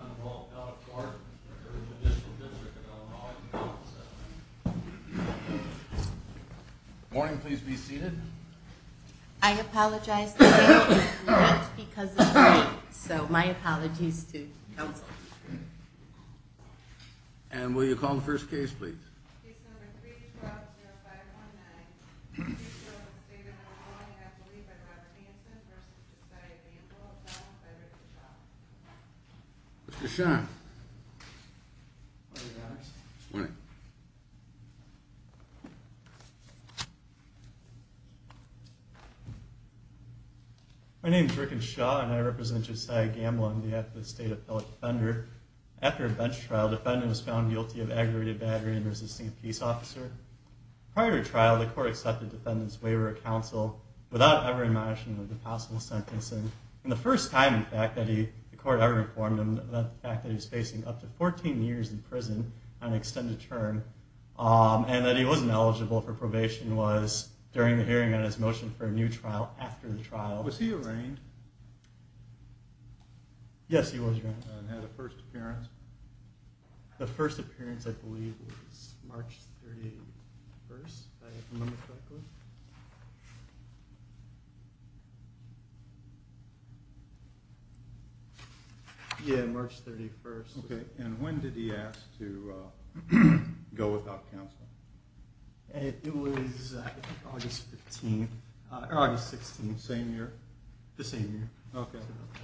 on the role of God of court in the judicial district of Illinois in the office of the Attorney General. Good morning. Please be seated. I apologize to the panel for being late because of the rain. So, my apologies to counsel. And will you call the first case, please? Case number 312-0519. This case was with the State of Illinois, and I believe by Robert Hanson v. Josiah Gamble, defendant by Rickenshaw. Mr. Shaw. Good morning, Your Honor. Good morning. My name is Rickenshaw, and I represent Josiah Gamble on behalf of the State Appellate Defender. After a bench trial, defendant was found guilty of aggravated battery and resisting a peace officer. Prior to trial, the court accepted defendant's waiver of counsel without ever admonishing him of the possible sentencing. And the first time, in fact, that the court ever informed him about the fact that he was facing up to 14 years in prison on an extended term and that he wasn't eligible for probation was during the hearing on his motion for a new trial after the trial. Was he arraigned? Yes, he was arraigned. And had a first appearance? The first appearance, I believe, was March 31st, if I remember correctly. Yeah, March 31st. Okay, and when did he ask to go without counsel? It was August 15th, or August 16th. Same year? The same year. Okay,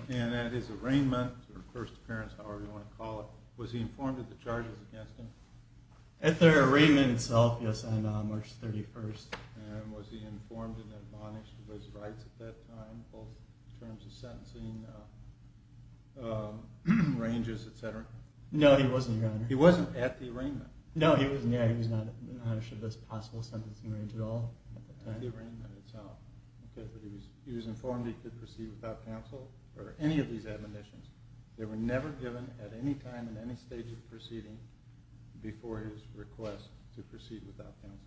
and at his arraignment, or first appearance, however you want to call it, was he informed of the charges against him? At the arraignment itself, yes, on March 31st. And was he informed and admonished of his rights at that time, both in terms of sentencing ranges, etc.? No, he wasn't, Your Honor. He wasn't at the arraignment? No, he was not admonished of his possible sentencing range at all. At the arraignment itself. Okay, but he was informed he could proceed without counsel, or any of these admonitions. They were never given at any time in any stage of proceeding before his request to proceed without counsel.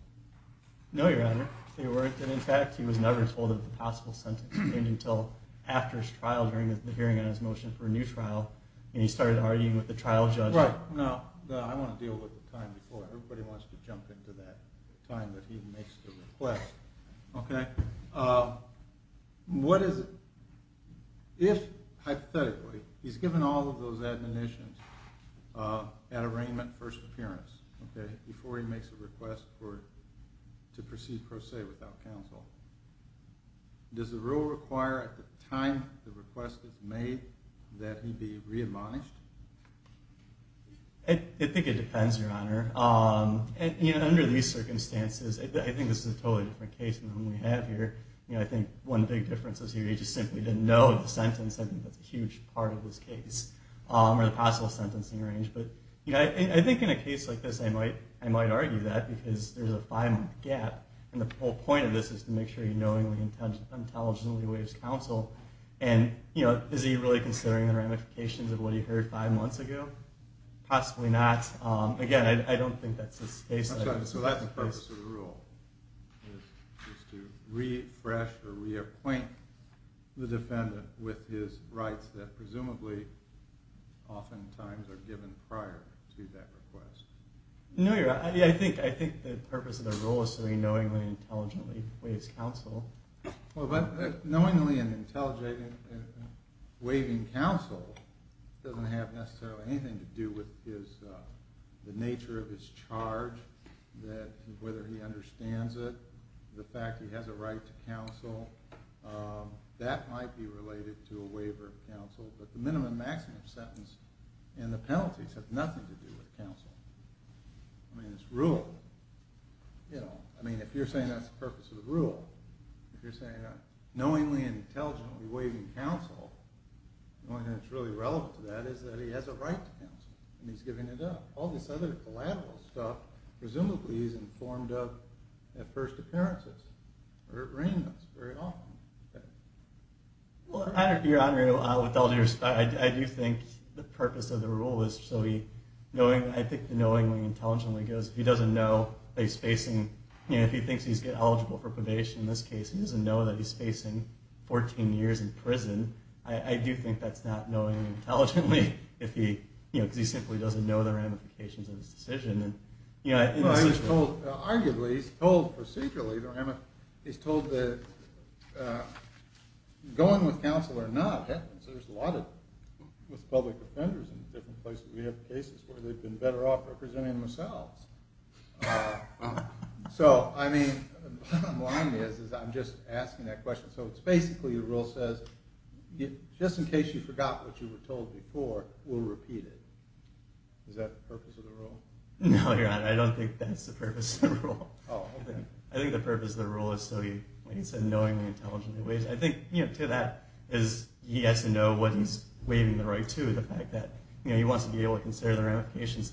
No, Your Honor, they weren't. And in fact, he was never told of the possible sentencing range until after his trial during the hearing on his motion for a new trial. And he started arguing with the trial judge. Right, now, I want to deal with the time before. Everybody wants to jump into that time that he makes the request. Okay, what is, if, hypothetically, he's given all of those admonitions at arraignment, first appearance, before he makes a request to proceed per se without counsel, does the rule require at the time the request is made that he be re-admonished? I think it depends, Your Honor. Under these circumstances, I think this is a totally different case than the one we have here. I think one big difference is he simply didn't know the sentence. I think that's a huge part of this case, or the possible sentencing range. I think in a case like this, I might argue that because there's a five-month gap. And the whole point of this is to make sure he knowingly and intelligently waives counsel. And, you know, is he really considering the ramifications of what he heard five months ago? Possibly not. Again, I don't think that's the case. I'm sorry, so that's the purpose of the rule, is to refresh or reappoint the defendant with his rights that presumably, oftentimes, are given prior to that request. No, Your Honor, I think the purpose of the rule is so he knowingly and intelligently waives counsel. But knowingly and intelligently waiving counsel doesn't have necessarily anything to do with the nature of his charge, whether he understands it, the fact he has a right to counsel. That might be related to a waiver of counsel. But the minimum and maximum sentence and the penalties have nothing to do with counsel. I mean, it's rule. You know, I mean, if you're saying that's the purpose of the rule, if you're saying knowingly and intelligently waiving counsel, the only thing that's really relevant to that is that he has a right to counsel, and he's giving it up. All this other collateral stuff, presumably he's informed of at first appearances, or at randoms, very often. Well, Your Honor, with all due respect, I do think the purpose of the rule is so he, I think the knowingly and intelligently goes, if he doesn't know that he's facing, you know, if he thinks he's eligible for probation in this case, he doesn't know that he's facing 14 years in prison, I do think that's not knowingly and intelligently, because he simply doesn't know the ramifications of his decision. Well, he's told, arguably, he's told procedurally, he's told that going with counsel or not happens. There's a lot of, with public offenders in different places, we have cases where they've been better off representing themselves. So, I mean, what I'm lying is, is I'm just asking that question. So it's basically, the rule says, just in case you forgot what you were told before, we'll repeat it. Is that the purpose of the rule? No, Your Honor, I don't think that's the purpose of the rule. Oh, okay. I think the purpose of the rule is so he, like you said, knowingly and intelligently, I think, you know, to that, is he has to know what he's waiving the right to, the fact that, you know, he wants to be able to consider the ramifications,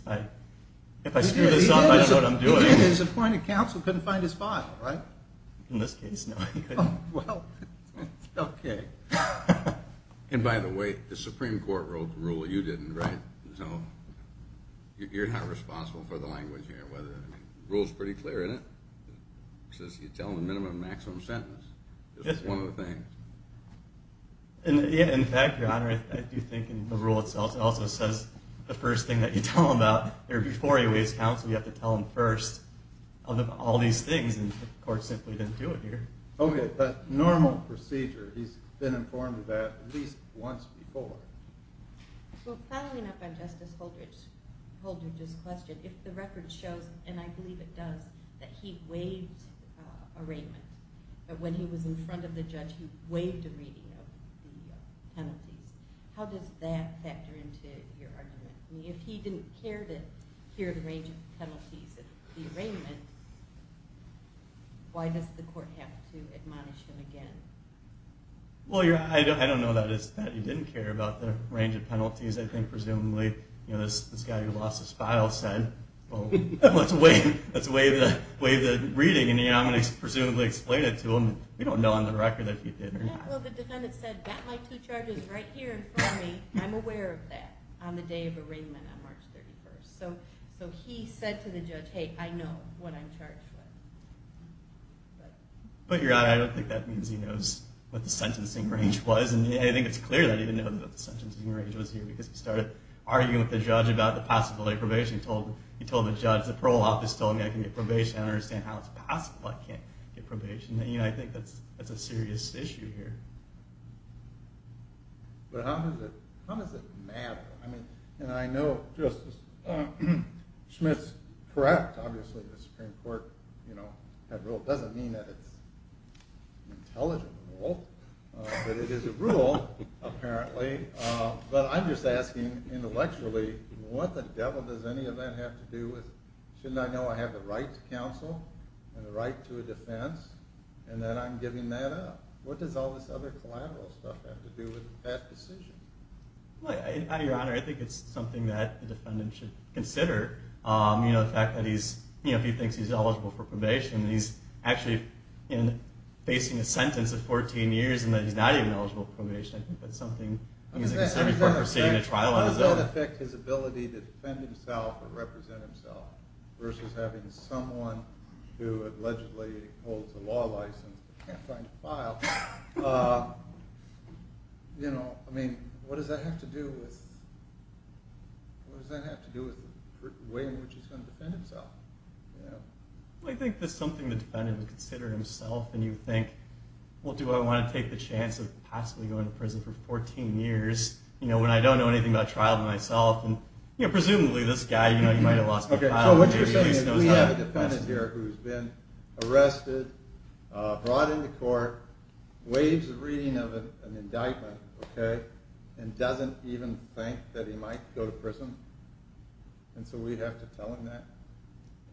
if I screw this up, I don't know what I'm doing. He didn't, his appointed counsel couldn't find his file, right? In this case, no, he couldn't. Oh, well, okay. And by the way, the Supreme Court wrote the rule, you didn't, right? So, you're not responsible for the language here, whether, I mean, the rule's pretty clear, isn't it? It says you tell him the minimum and maximum sentence. That's one of the things. And, yeah, in fact, Your Honor, I do think in the rule itself, it also says the first thing that you tell him about, or before you raise counsel, you have to tell him first of all these things, and the court simply didn't do it here. Okay, but normal procedure, he's been informed of that at least once before. Well, following up on Justice Holdridge's question, if the record shows, and I believe it does, that he waived arraignment, that when he was in front of the judge, he waived a reading of the penalties, how does that factor into your argument? I mean, if he didn't care to hear the range of penalties of the arraignment, why does the court have to admonish him again? Well, I don't know that he didn't care about the range of penalties. I think presumably this guy who lost his file said, well, let's waive the reading, and I'm going to presumably explain it to him. We don't know on the record if he did or not. Well, the defendant said, got my two charges right here in front of me. I'm aware of that on the day of arraignment on March 31st. So he said to the judge, hey, I know what I'm charged with. But your Honor, I don't think that means he knows what the sentencing range was. I think it's clear that he didn't know what the sentencing range was here because he started arguing with the judge about the possibility of probation. He told the judge, the parole office told me I can get probation. I don't understand how it's possible I can't get probation. I think that's a serious issue here. But how does it matter? And I know, Justice, Schmidt's correct. Obviously the Supreme Court had rule. It doesn't mean that it's an intelligent rule. But it is a rule, apparently. But I'm just asking intellectually what the devil does any of that have to do with shouldn't I know I have the right to counsel and the right to a defense, and then I'm giving that up? What does all this other collateral stuff have to do with that decision? Your Honor, I think it's something that the defendant should consider. The fact that he thinks he's eligible for probation, and he's actually facing a sentence of 14 years and that he's not even eligible for probation. I think that's something he should consider before proceeding to trial on his own. How does that affect his ability to defend himself or represent himself versus having someone who allegedly holds a law license but can't find a file? What does that have to do with the way in which he's going to defend himself? I think that's something the defendant would consider himself. And you would think, well, do I want to take the chance of possibly going to prison for 14 years when I don't know anything about trial to myself? Presumably this guy, he might have lost a file. So what you're saying is we have a defendant here who's been arrested, brought into court, waives the reading of an indictment, and doesn't even think that he might go to prison? And so we'd have to tell him that?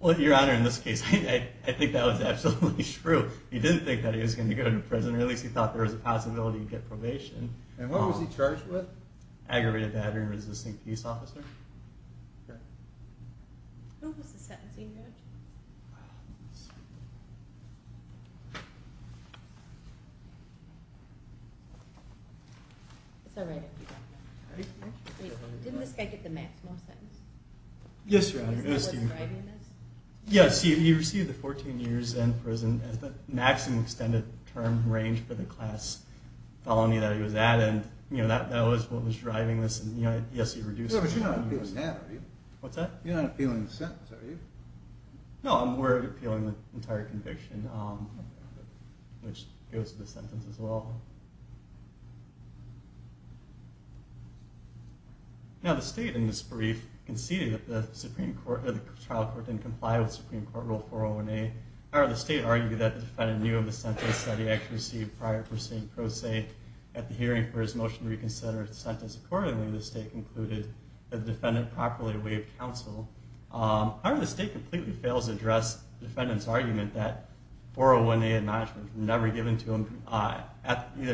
Well, Your Honor, in this case, I think that was absolutely true. He didn't think that he was going to go to prison, or at least he thought there was a possibility he'd get probation. And what was he charged with? Aggravated battery and resisting peace officer. Okay. What was the sentencing, Judge? Let's see. It's all right if you don't know. Didn't this guy get the maximum sentence? Yes, Your Honor. Yes, he received the 14 years in prison as the maximum extended term range for the class felony that he was at, and that was what was driving this. Yes, he reduced it. But you're not appealing the sentence, are you? No, I'm appealing the entire conviction, which goes with the sentence as well. Now, the State, in this brief, conceded that the trial court didn't comply with Supreme Court Rule 401A. However, the State argued that the defendant knew of the sentence that he actually received prior to pro se at the hearing for his motion to reconsider his sentence. Accordingly, the State concluded that the defendant properly waived counsel. However, the State completely fails to address the defendant's argument that 401A admonishment was never given to him either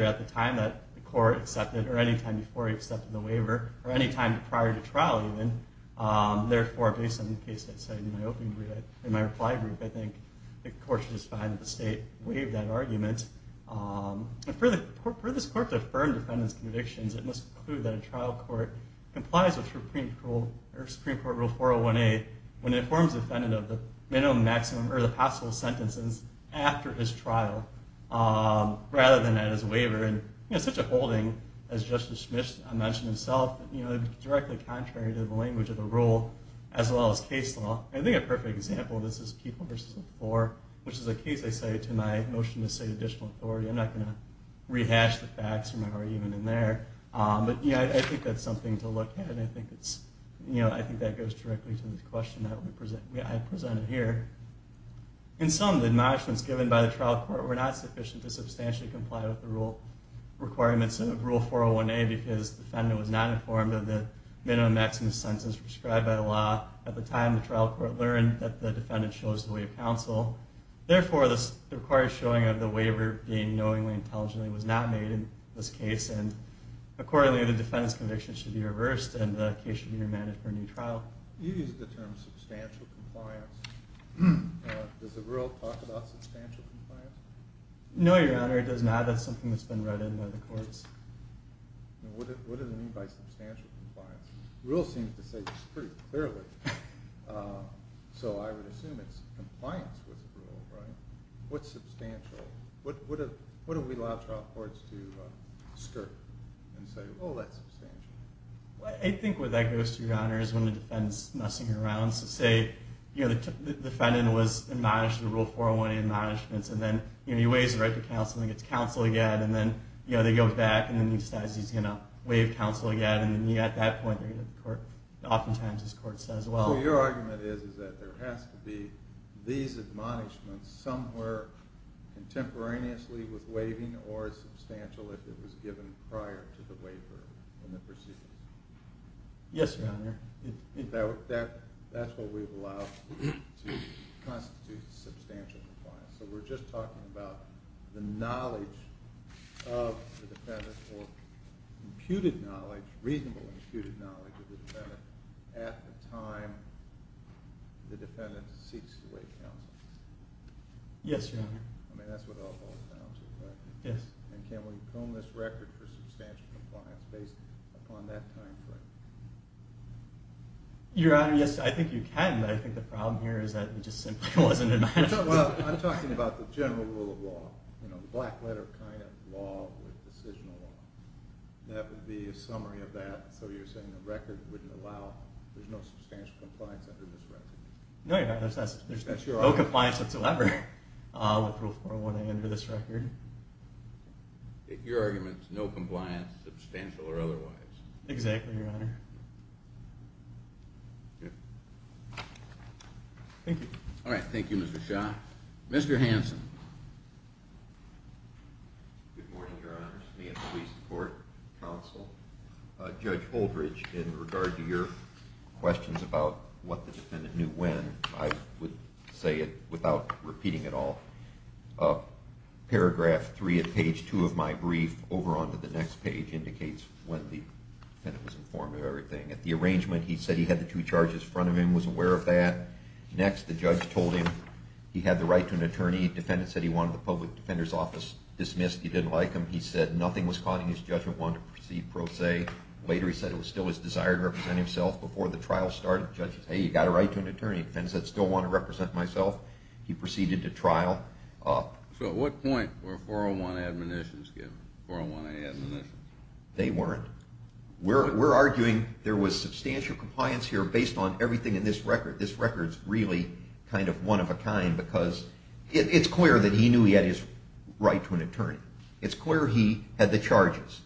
at the time that the court accepted or any time before he accepted the waiver or any time prior to trial even. Therefore, based on the case I cited in my reply brief, I think the court should find that the State waived that argument. For this court to affirm the defendant's convictions, it must conclude that a trial court complies with Supreme Court Rule 401A when it informs the defendant of the minimum, maximum, or the possible sentences after his trial rather than at his waiver. And it's such a holding, as Justice Schmidt mentioned himself, directly contrary to the language of the rule as well as case law. I think a perfect example of this is People v. 4, which is a case I cited in my motion to cite additional authority. I'm not going to rehash the facts from my argument in there, but I think that's something to look at. I think that goes directly to the question that I presented here. In sum, the admonishments given by the trial court were not sufficient to substantially comply with the requirements of Rule 401A because the defendant was not informed of the minimum, maximum, or the sentences prescribed by the law at the time the trial court learned that the defendant chose to waive counsel. Therefore, the required showing of the waiver being knowingly, intelligently was not made in this case. And accordingly, the defendant's conviction should be reversed and the case should be remanded for a new trial. You used the term substantial compliance. Does the rule talk about substantial compliance? No, Your Honor, it does not. That's something that's been read in by the courts. What does it mean by substantial compliance? The rule seems to say it pretty clearly. So I would assume it's compliance with the rule, right? What's substantial? What do we allow trial courts to skirt and say, oh, that's substantial? I think what that goes to, Your Honor, is when the defendant's messing around. So say the defendant was admonished in Rule 401A admonishments and then he waives the right to counsel and gets counsel again and then they go back and then he decides he's going to waive counsel again and at that point oftentimes his court says, well. So your argument is that there has to be these admonishments somewhere contemporaneously with waiving or substantial if it was given prior to the waiver in the proceedings? Yes, Your Honor. That's what we've allowed to constitute substantial compliance. So we're just talking about the knowledge of the defendant or imputed knowledge, reasonable imputed knowledge of the defendant at the time the defendant seeks to waive counsel? Yes, Your Honor. I mean, that's what all falls down to, correct? Yes. And can we comb this record for substantial compliance based upon that time frame? Your Honor, yes, I think you can, but I think the problem here is that it just simply wasn't imagined. Well, I'm talking about the general rule of law, the black letter kind of law with decisional law. That would be a summary of that. So you're saying the record wouldn't allow there's no substantial compliance under this record? No, Your Honor, there's no compliance whatsoever with Rule 401A under this record. Your argument is no compliance, substantial or otherwise? Exactly, Your Honor. Okay. Thank you. All right, thank you, Mr. Shah. Mr. Hanson. Good morning, Your Honor. It's me, a police and court counsel. Judge Holdredge, in regard to your questions about what the defendant knew when, I would say it without repeating it all. Paragraph 3 of page 2 of my brief over onto the next page indicates when the defendant was informed of everything. At the arrangement, he said he had the two charges in front of him, was aware of that. Next, the judge told him he had the right to an attorney. The defendant said he wanted the public defender's office dismissed. He didn't like him. He said nothing was caught in his judgment, wanted to proceed pro se. Later, he said it was still his desire to represent himself. Before the trial started, the judge said, hey, you've got a right to an attorney. The defendant said, I still want to represent myself. He proceeded to trial. So at what point were 401A admonitions given, 401A admonitions? They weren't. We're arguing there was substantial compliance here based on everything in this record. This record is really kind of one-of-a-kind because it's clear that he knew he had his right to an attorney. It's clear he had the charges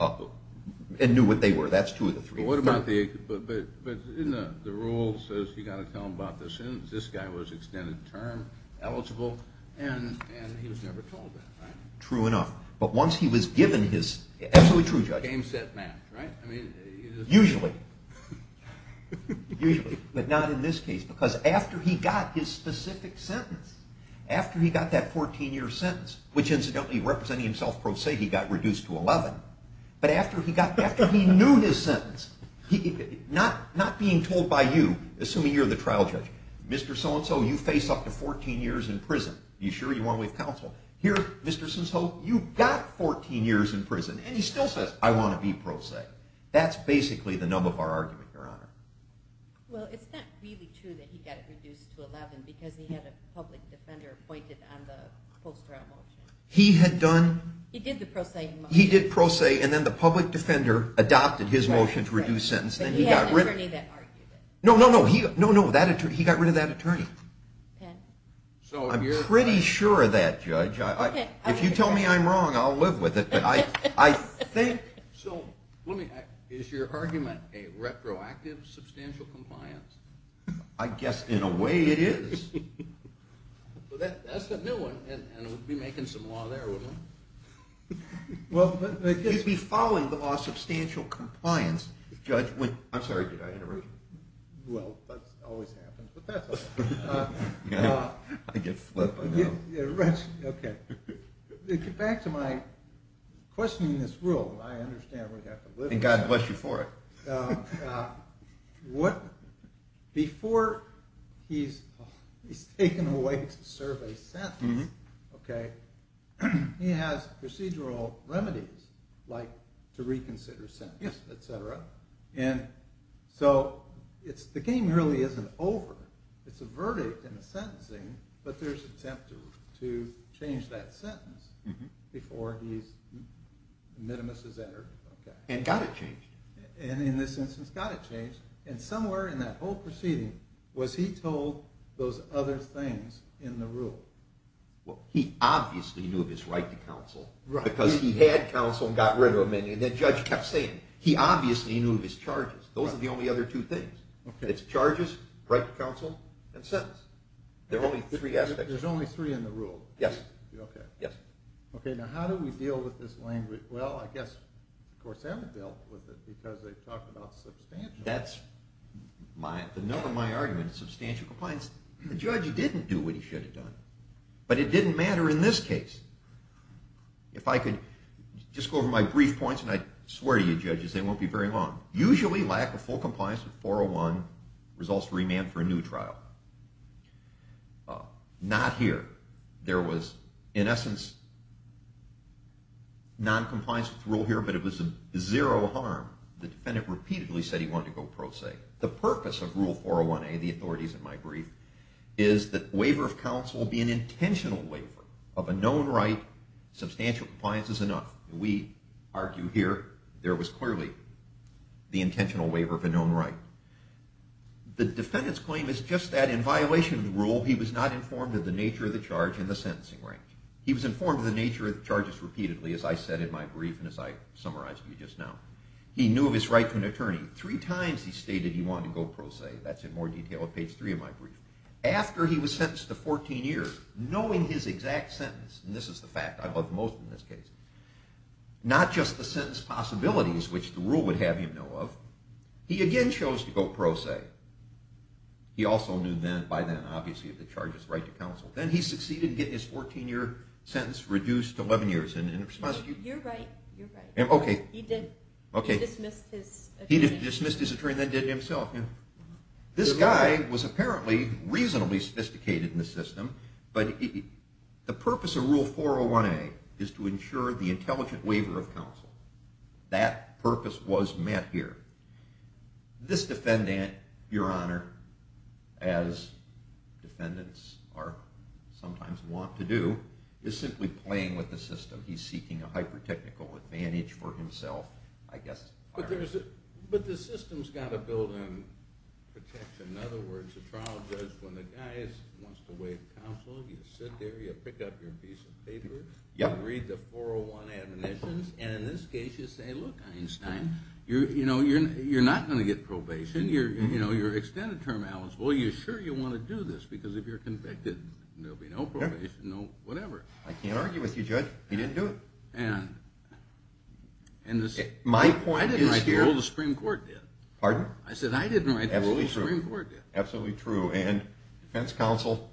and knew what they were. That's two of the three. But the rule says you've got to tell him about this. This guy was extended term, eligible, and he was never told that, right? True enough. But once he was given his – absolutely true, Judge. Game, set, match, right? Usually. Usually. But not in this case because after he got his specific sentence, after he got that 14-year sentence, which incidentally representing himself pro se he got reduced to 11, but after he knew his sentence, not being told by you, assuming you're the trial judge, Mr. So-and-so, you face up to 14 years in prison. Are you sure you want to leave counsel? Here, Mr. Sinzho, you've got 14 years in prison. And he still says, I want to be pro se. That's basically the nub of our argument, Your Honor. Well, it's not really true that he got reduced to 11 because he had a public defender appointed on the post-trial motion. He had done – He did the pro se motion. He did pro se, and then the public defender adopted his motion to reduce sentence. But he had an attorney that argued it. No, no, no. He got rid of that attorney. I'm pretty sure of that, Judge. If you tell me I'm wrong, I'll live with it. But I think – So let me ask, is your argument a retroactive substantial compliance? I guess in a way it is. Well, that's a new one, and we'd be making some law there, wouldn't we? You'd be following the law of substantial compliance, Judge. I'm sorry, did I interrupt you? Well, that always happens, but that's okay. I get flipped, I know. Okay, back to my questioning this rule. I understand we have to live with it. And God bless you for it. Before he's taken away to serve a sentence, he has procedural remedies like to reconsider a sentence, et cetera. And so the game really isn't over. It's a verdict and a sentencing, but there's an attempt to change that sentence before the minimus is entered. And got it changed. And in this instance, got it changed. And somewhere in that whole proceeding, was he told those other things in the rule? Well, he obviously knew of his right to counsel because he had counsel and got rid of many. And the judge kept saying, he obviously knew of his charges. Those are the only other two things. It's charges, right to counsel, and sentence. There are only three aspects. There's only three in the rule? Yes. Okay. Yes. Okay, now how do we deal with this language? Well, I guess, of course, they haven't dealt with it because they've talked about substantial. That's the note of my argument, substantial compliance. The judge didn't do what he should have done, but it didn't matter in this case. If I could just go over my brief points, and I swear to you, judges, they won't be very long. Usually, lack of full compliance with 401 results to remand for a new trial. Not here. There was, in essence, noncompliance with the rule here, but it was zero harm. The defendant repeatedly said he wanted to go pro se. The purpose of Rule 401A, the authorities in my brief, is that waiver of counsel will be an intentional waiver of a known right. Substantial compliance is enough. We argue here there was clearly the intentional waiver of a known right. The defendant's claim is just that in violation of the rule, he was not informed of the nature of the charge and the sentencing range. He was informed of the nature of the charges repeatedly, as I said in my brief and as I summarized to you just now. He knew of his right to an attorney. Three times he stated he wanted to go pro se. That's in more detail at page three of my brief. After he was sentenced to 14 years, knowing his exact sentence, and this is the fact I love most in this case, not just the sentence possibilities, which the rule would have him know of, he again chose to go pro se. He also knew by then, obviously, of the charge's right to counsel. Then he succeeded in getting his 14-year sentence reduced to 11 years. You're right. Okay. He did. Okay. He dismissed his attorney. He dismissed his attorney and then did it himself. This guy was apparently reasonably sophisticated in the system, but the purpose of Rule 401A is to ensure the intelligent waiver of counsel. That purpose was met here. This defendant, Your Honor, as defendants sometimes want to do, is simply playing with the system. He's seeking a hyper-technical advantage for himself. But the system's got to build on protection. In other words, the trial judge, when the guy wants to waive counsel, you sit there, you pick up your piece of paper, you read the 401 admonitions, and in this case you say, look, Einstein, you're not going to get probation. You're extended term eligible. You're sure you want to do this because if you're convicted, there'll be no probation, no whatever. I can't argue with you, Judge. He didn't do it. My point is here. I didn't write the rule. The Supreme Court did. Pardon? I said I didn't write the rule. The Supreme Court did. Absolutely true. And defense counsel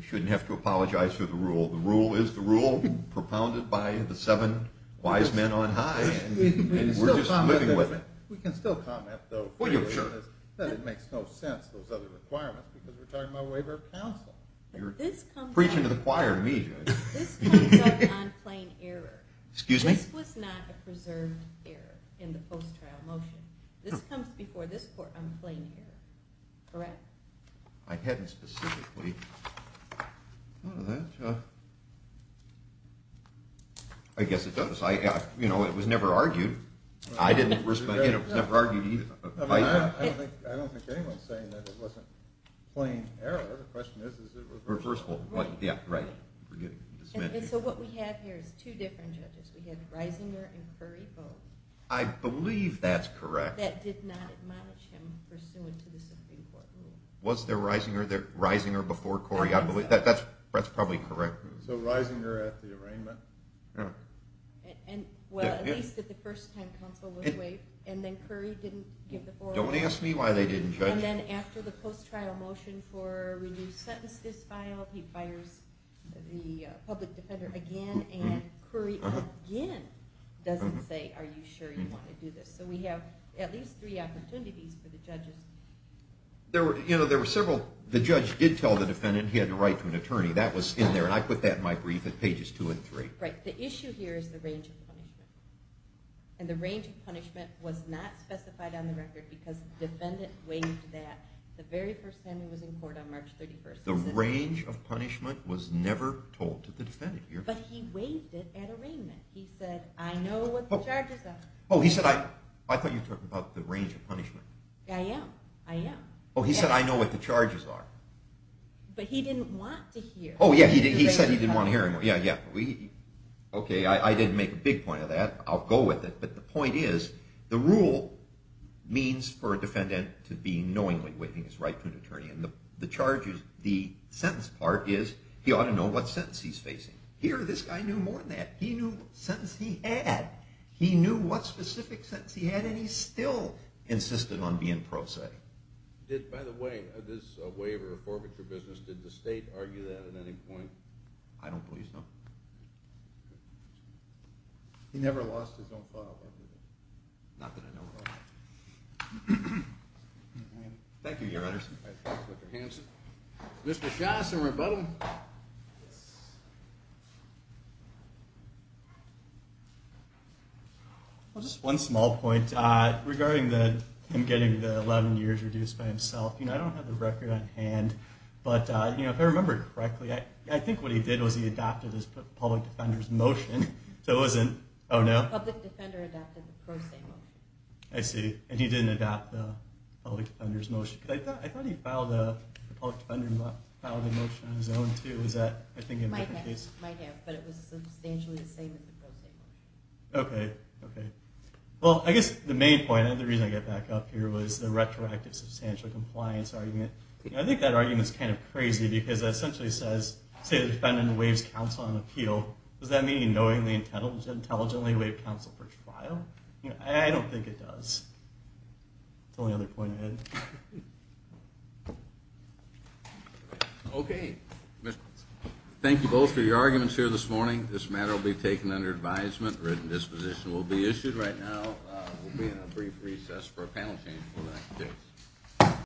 shouldn't have to apologize for the rule. The rule is the rule propounded by the seven wise men on high, and we're just living with it. We can still comment, though, that it makes no sense, those other requirements, because we're talking about waiver of counsel. You're preaching to the choir to me, Judge. This comes up on plain error. Excuse me? This was not a preserved error in the post-trial motion. This comes before this court on plain error, correct? I hadn't specifically thought of that. I guess it does. You know, it was never argued. I didn't respect it. It was never argued either. I don't think anyone's saying that it wasn't plain error. Reversible. Right. So what we have here is two different judges. We have Reisinger and Curry both. I believe that's correct. That did not admonish him pursuant to the Supreme Court rule. Was there Reisinger before Curry? That's probably correct. So Reisinger at the arraignment. Well, at least at the first time counsel was waived, and then Curry didn't give the forum. Don't ask me why they didn't, Judge. And then after the post-trial motion for reduced sentence this file, he fires the public defender again, and Curry again doesn't say, are you sure you want to do this? So we have at least three opportunities for the judges. You know, there were several. The judge did tell the defendant he had the right to an attorney. That was in there, and I put that in my brief at pages two and three. Right. The issue here is the range of punishment, and the range of punishment was not specified on the record because the defendant waived that the very first time he was in court on March 31st. The range of punishment was never told to the defendant here. But he waived it at arraignment. He said, I know what the charges are. Oh, he said, I thought you were talking about the range of punishment. I am. I am. Oh, he said, I know what the charges are. But he didn't want to hear. Oh, yeah, he said he didn't want to hear anymore. Yeah, yeah. Okay, I didn't make a big point of that. I'll go with it. But the point is, the rule means for a defendant to be knowingly waiving his right to an attorney. And the sentence part is, he ought to know what sentence he's facing. Here, this guy knew more than that. He knew what sentence he had. He knew what specific sentence he had, and he still insisted on being pro se. Did, by the way, this waiver or forfeiture business, did the state argue that at any point? I don't believe so. He never lost his own file. Not that I know of. Thank you, Your Honor. Thank you, Mr. Hanson. Mr. Johnson, rebuttal. Just one small point regarding him getting the 11 years reduced by himself. You know, I don't have the record on hand. But if I remember correctly, I think what he did was he adopted the public defender's motion. So it wasn't, oh, no? The public defender adopted the pro se motion. I see. And he didn't adopt the public defender's motion. I thought he filed a motion on his own, too. Is that, I think, a different case? He might have. But it was substantially the same as the pro se motion. Okay, okay. Well, I guess the main point, and the reason I get back up here, was the retroactive substantial compliance argument. I think that argument is kind of crazy because it essentially says, say the defendant waives counsel on appeal, does that mean knowingly and intelligently waive counsel for trial? I don't think it does. That's the only other point I had. Okay. Thank you both for your arguments here this morning. This matter will be taken under advisement. A written disposition will be issued right now. We'll be in a brief recess for a panel change before the next case.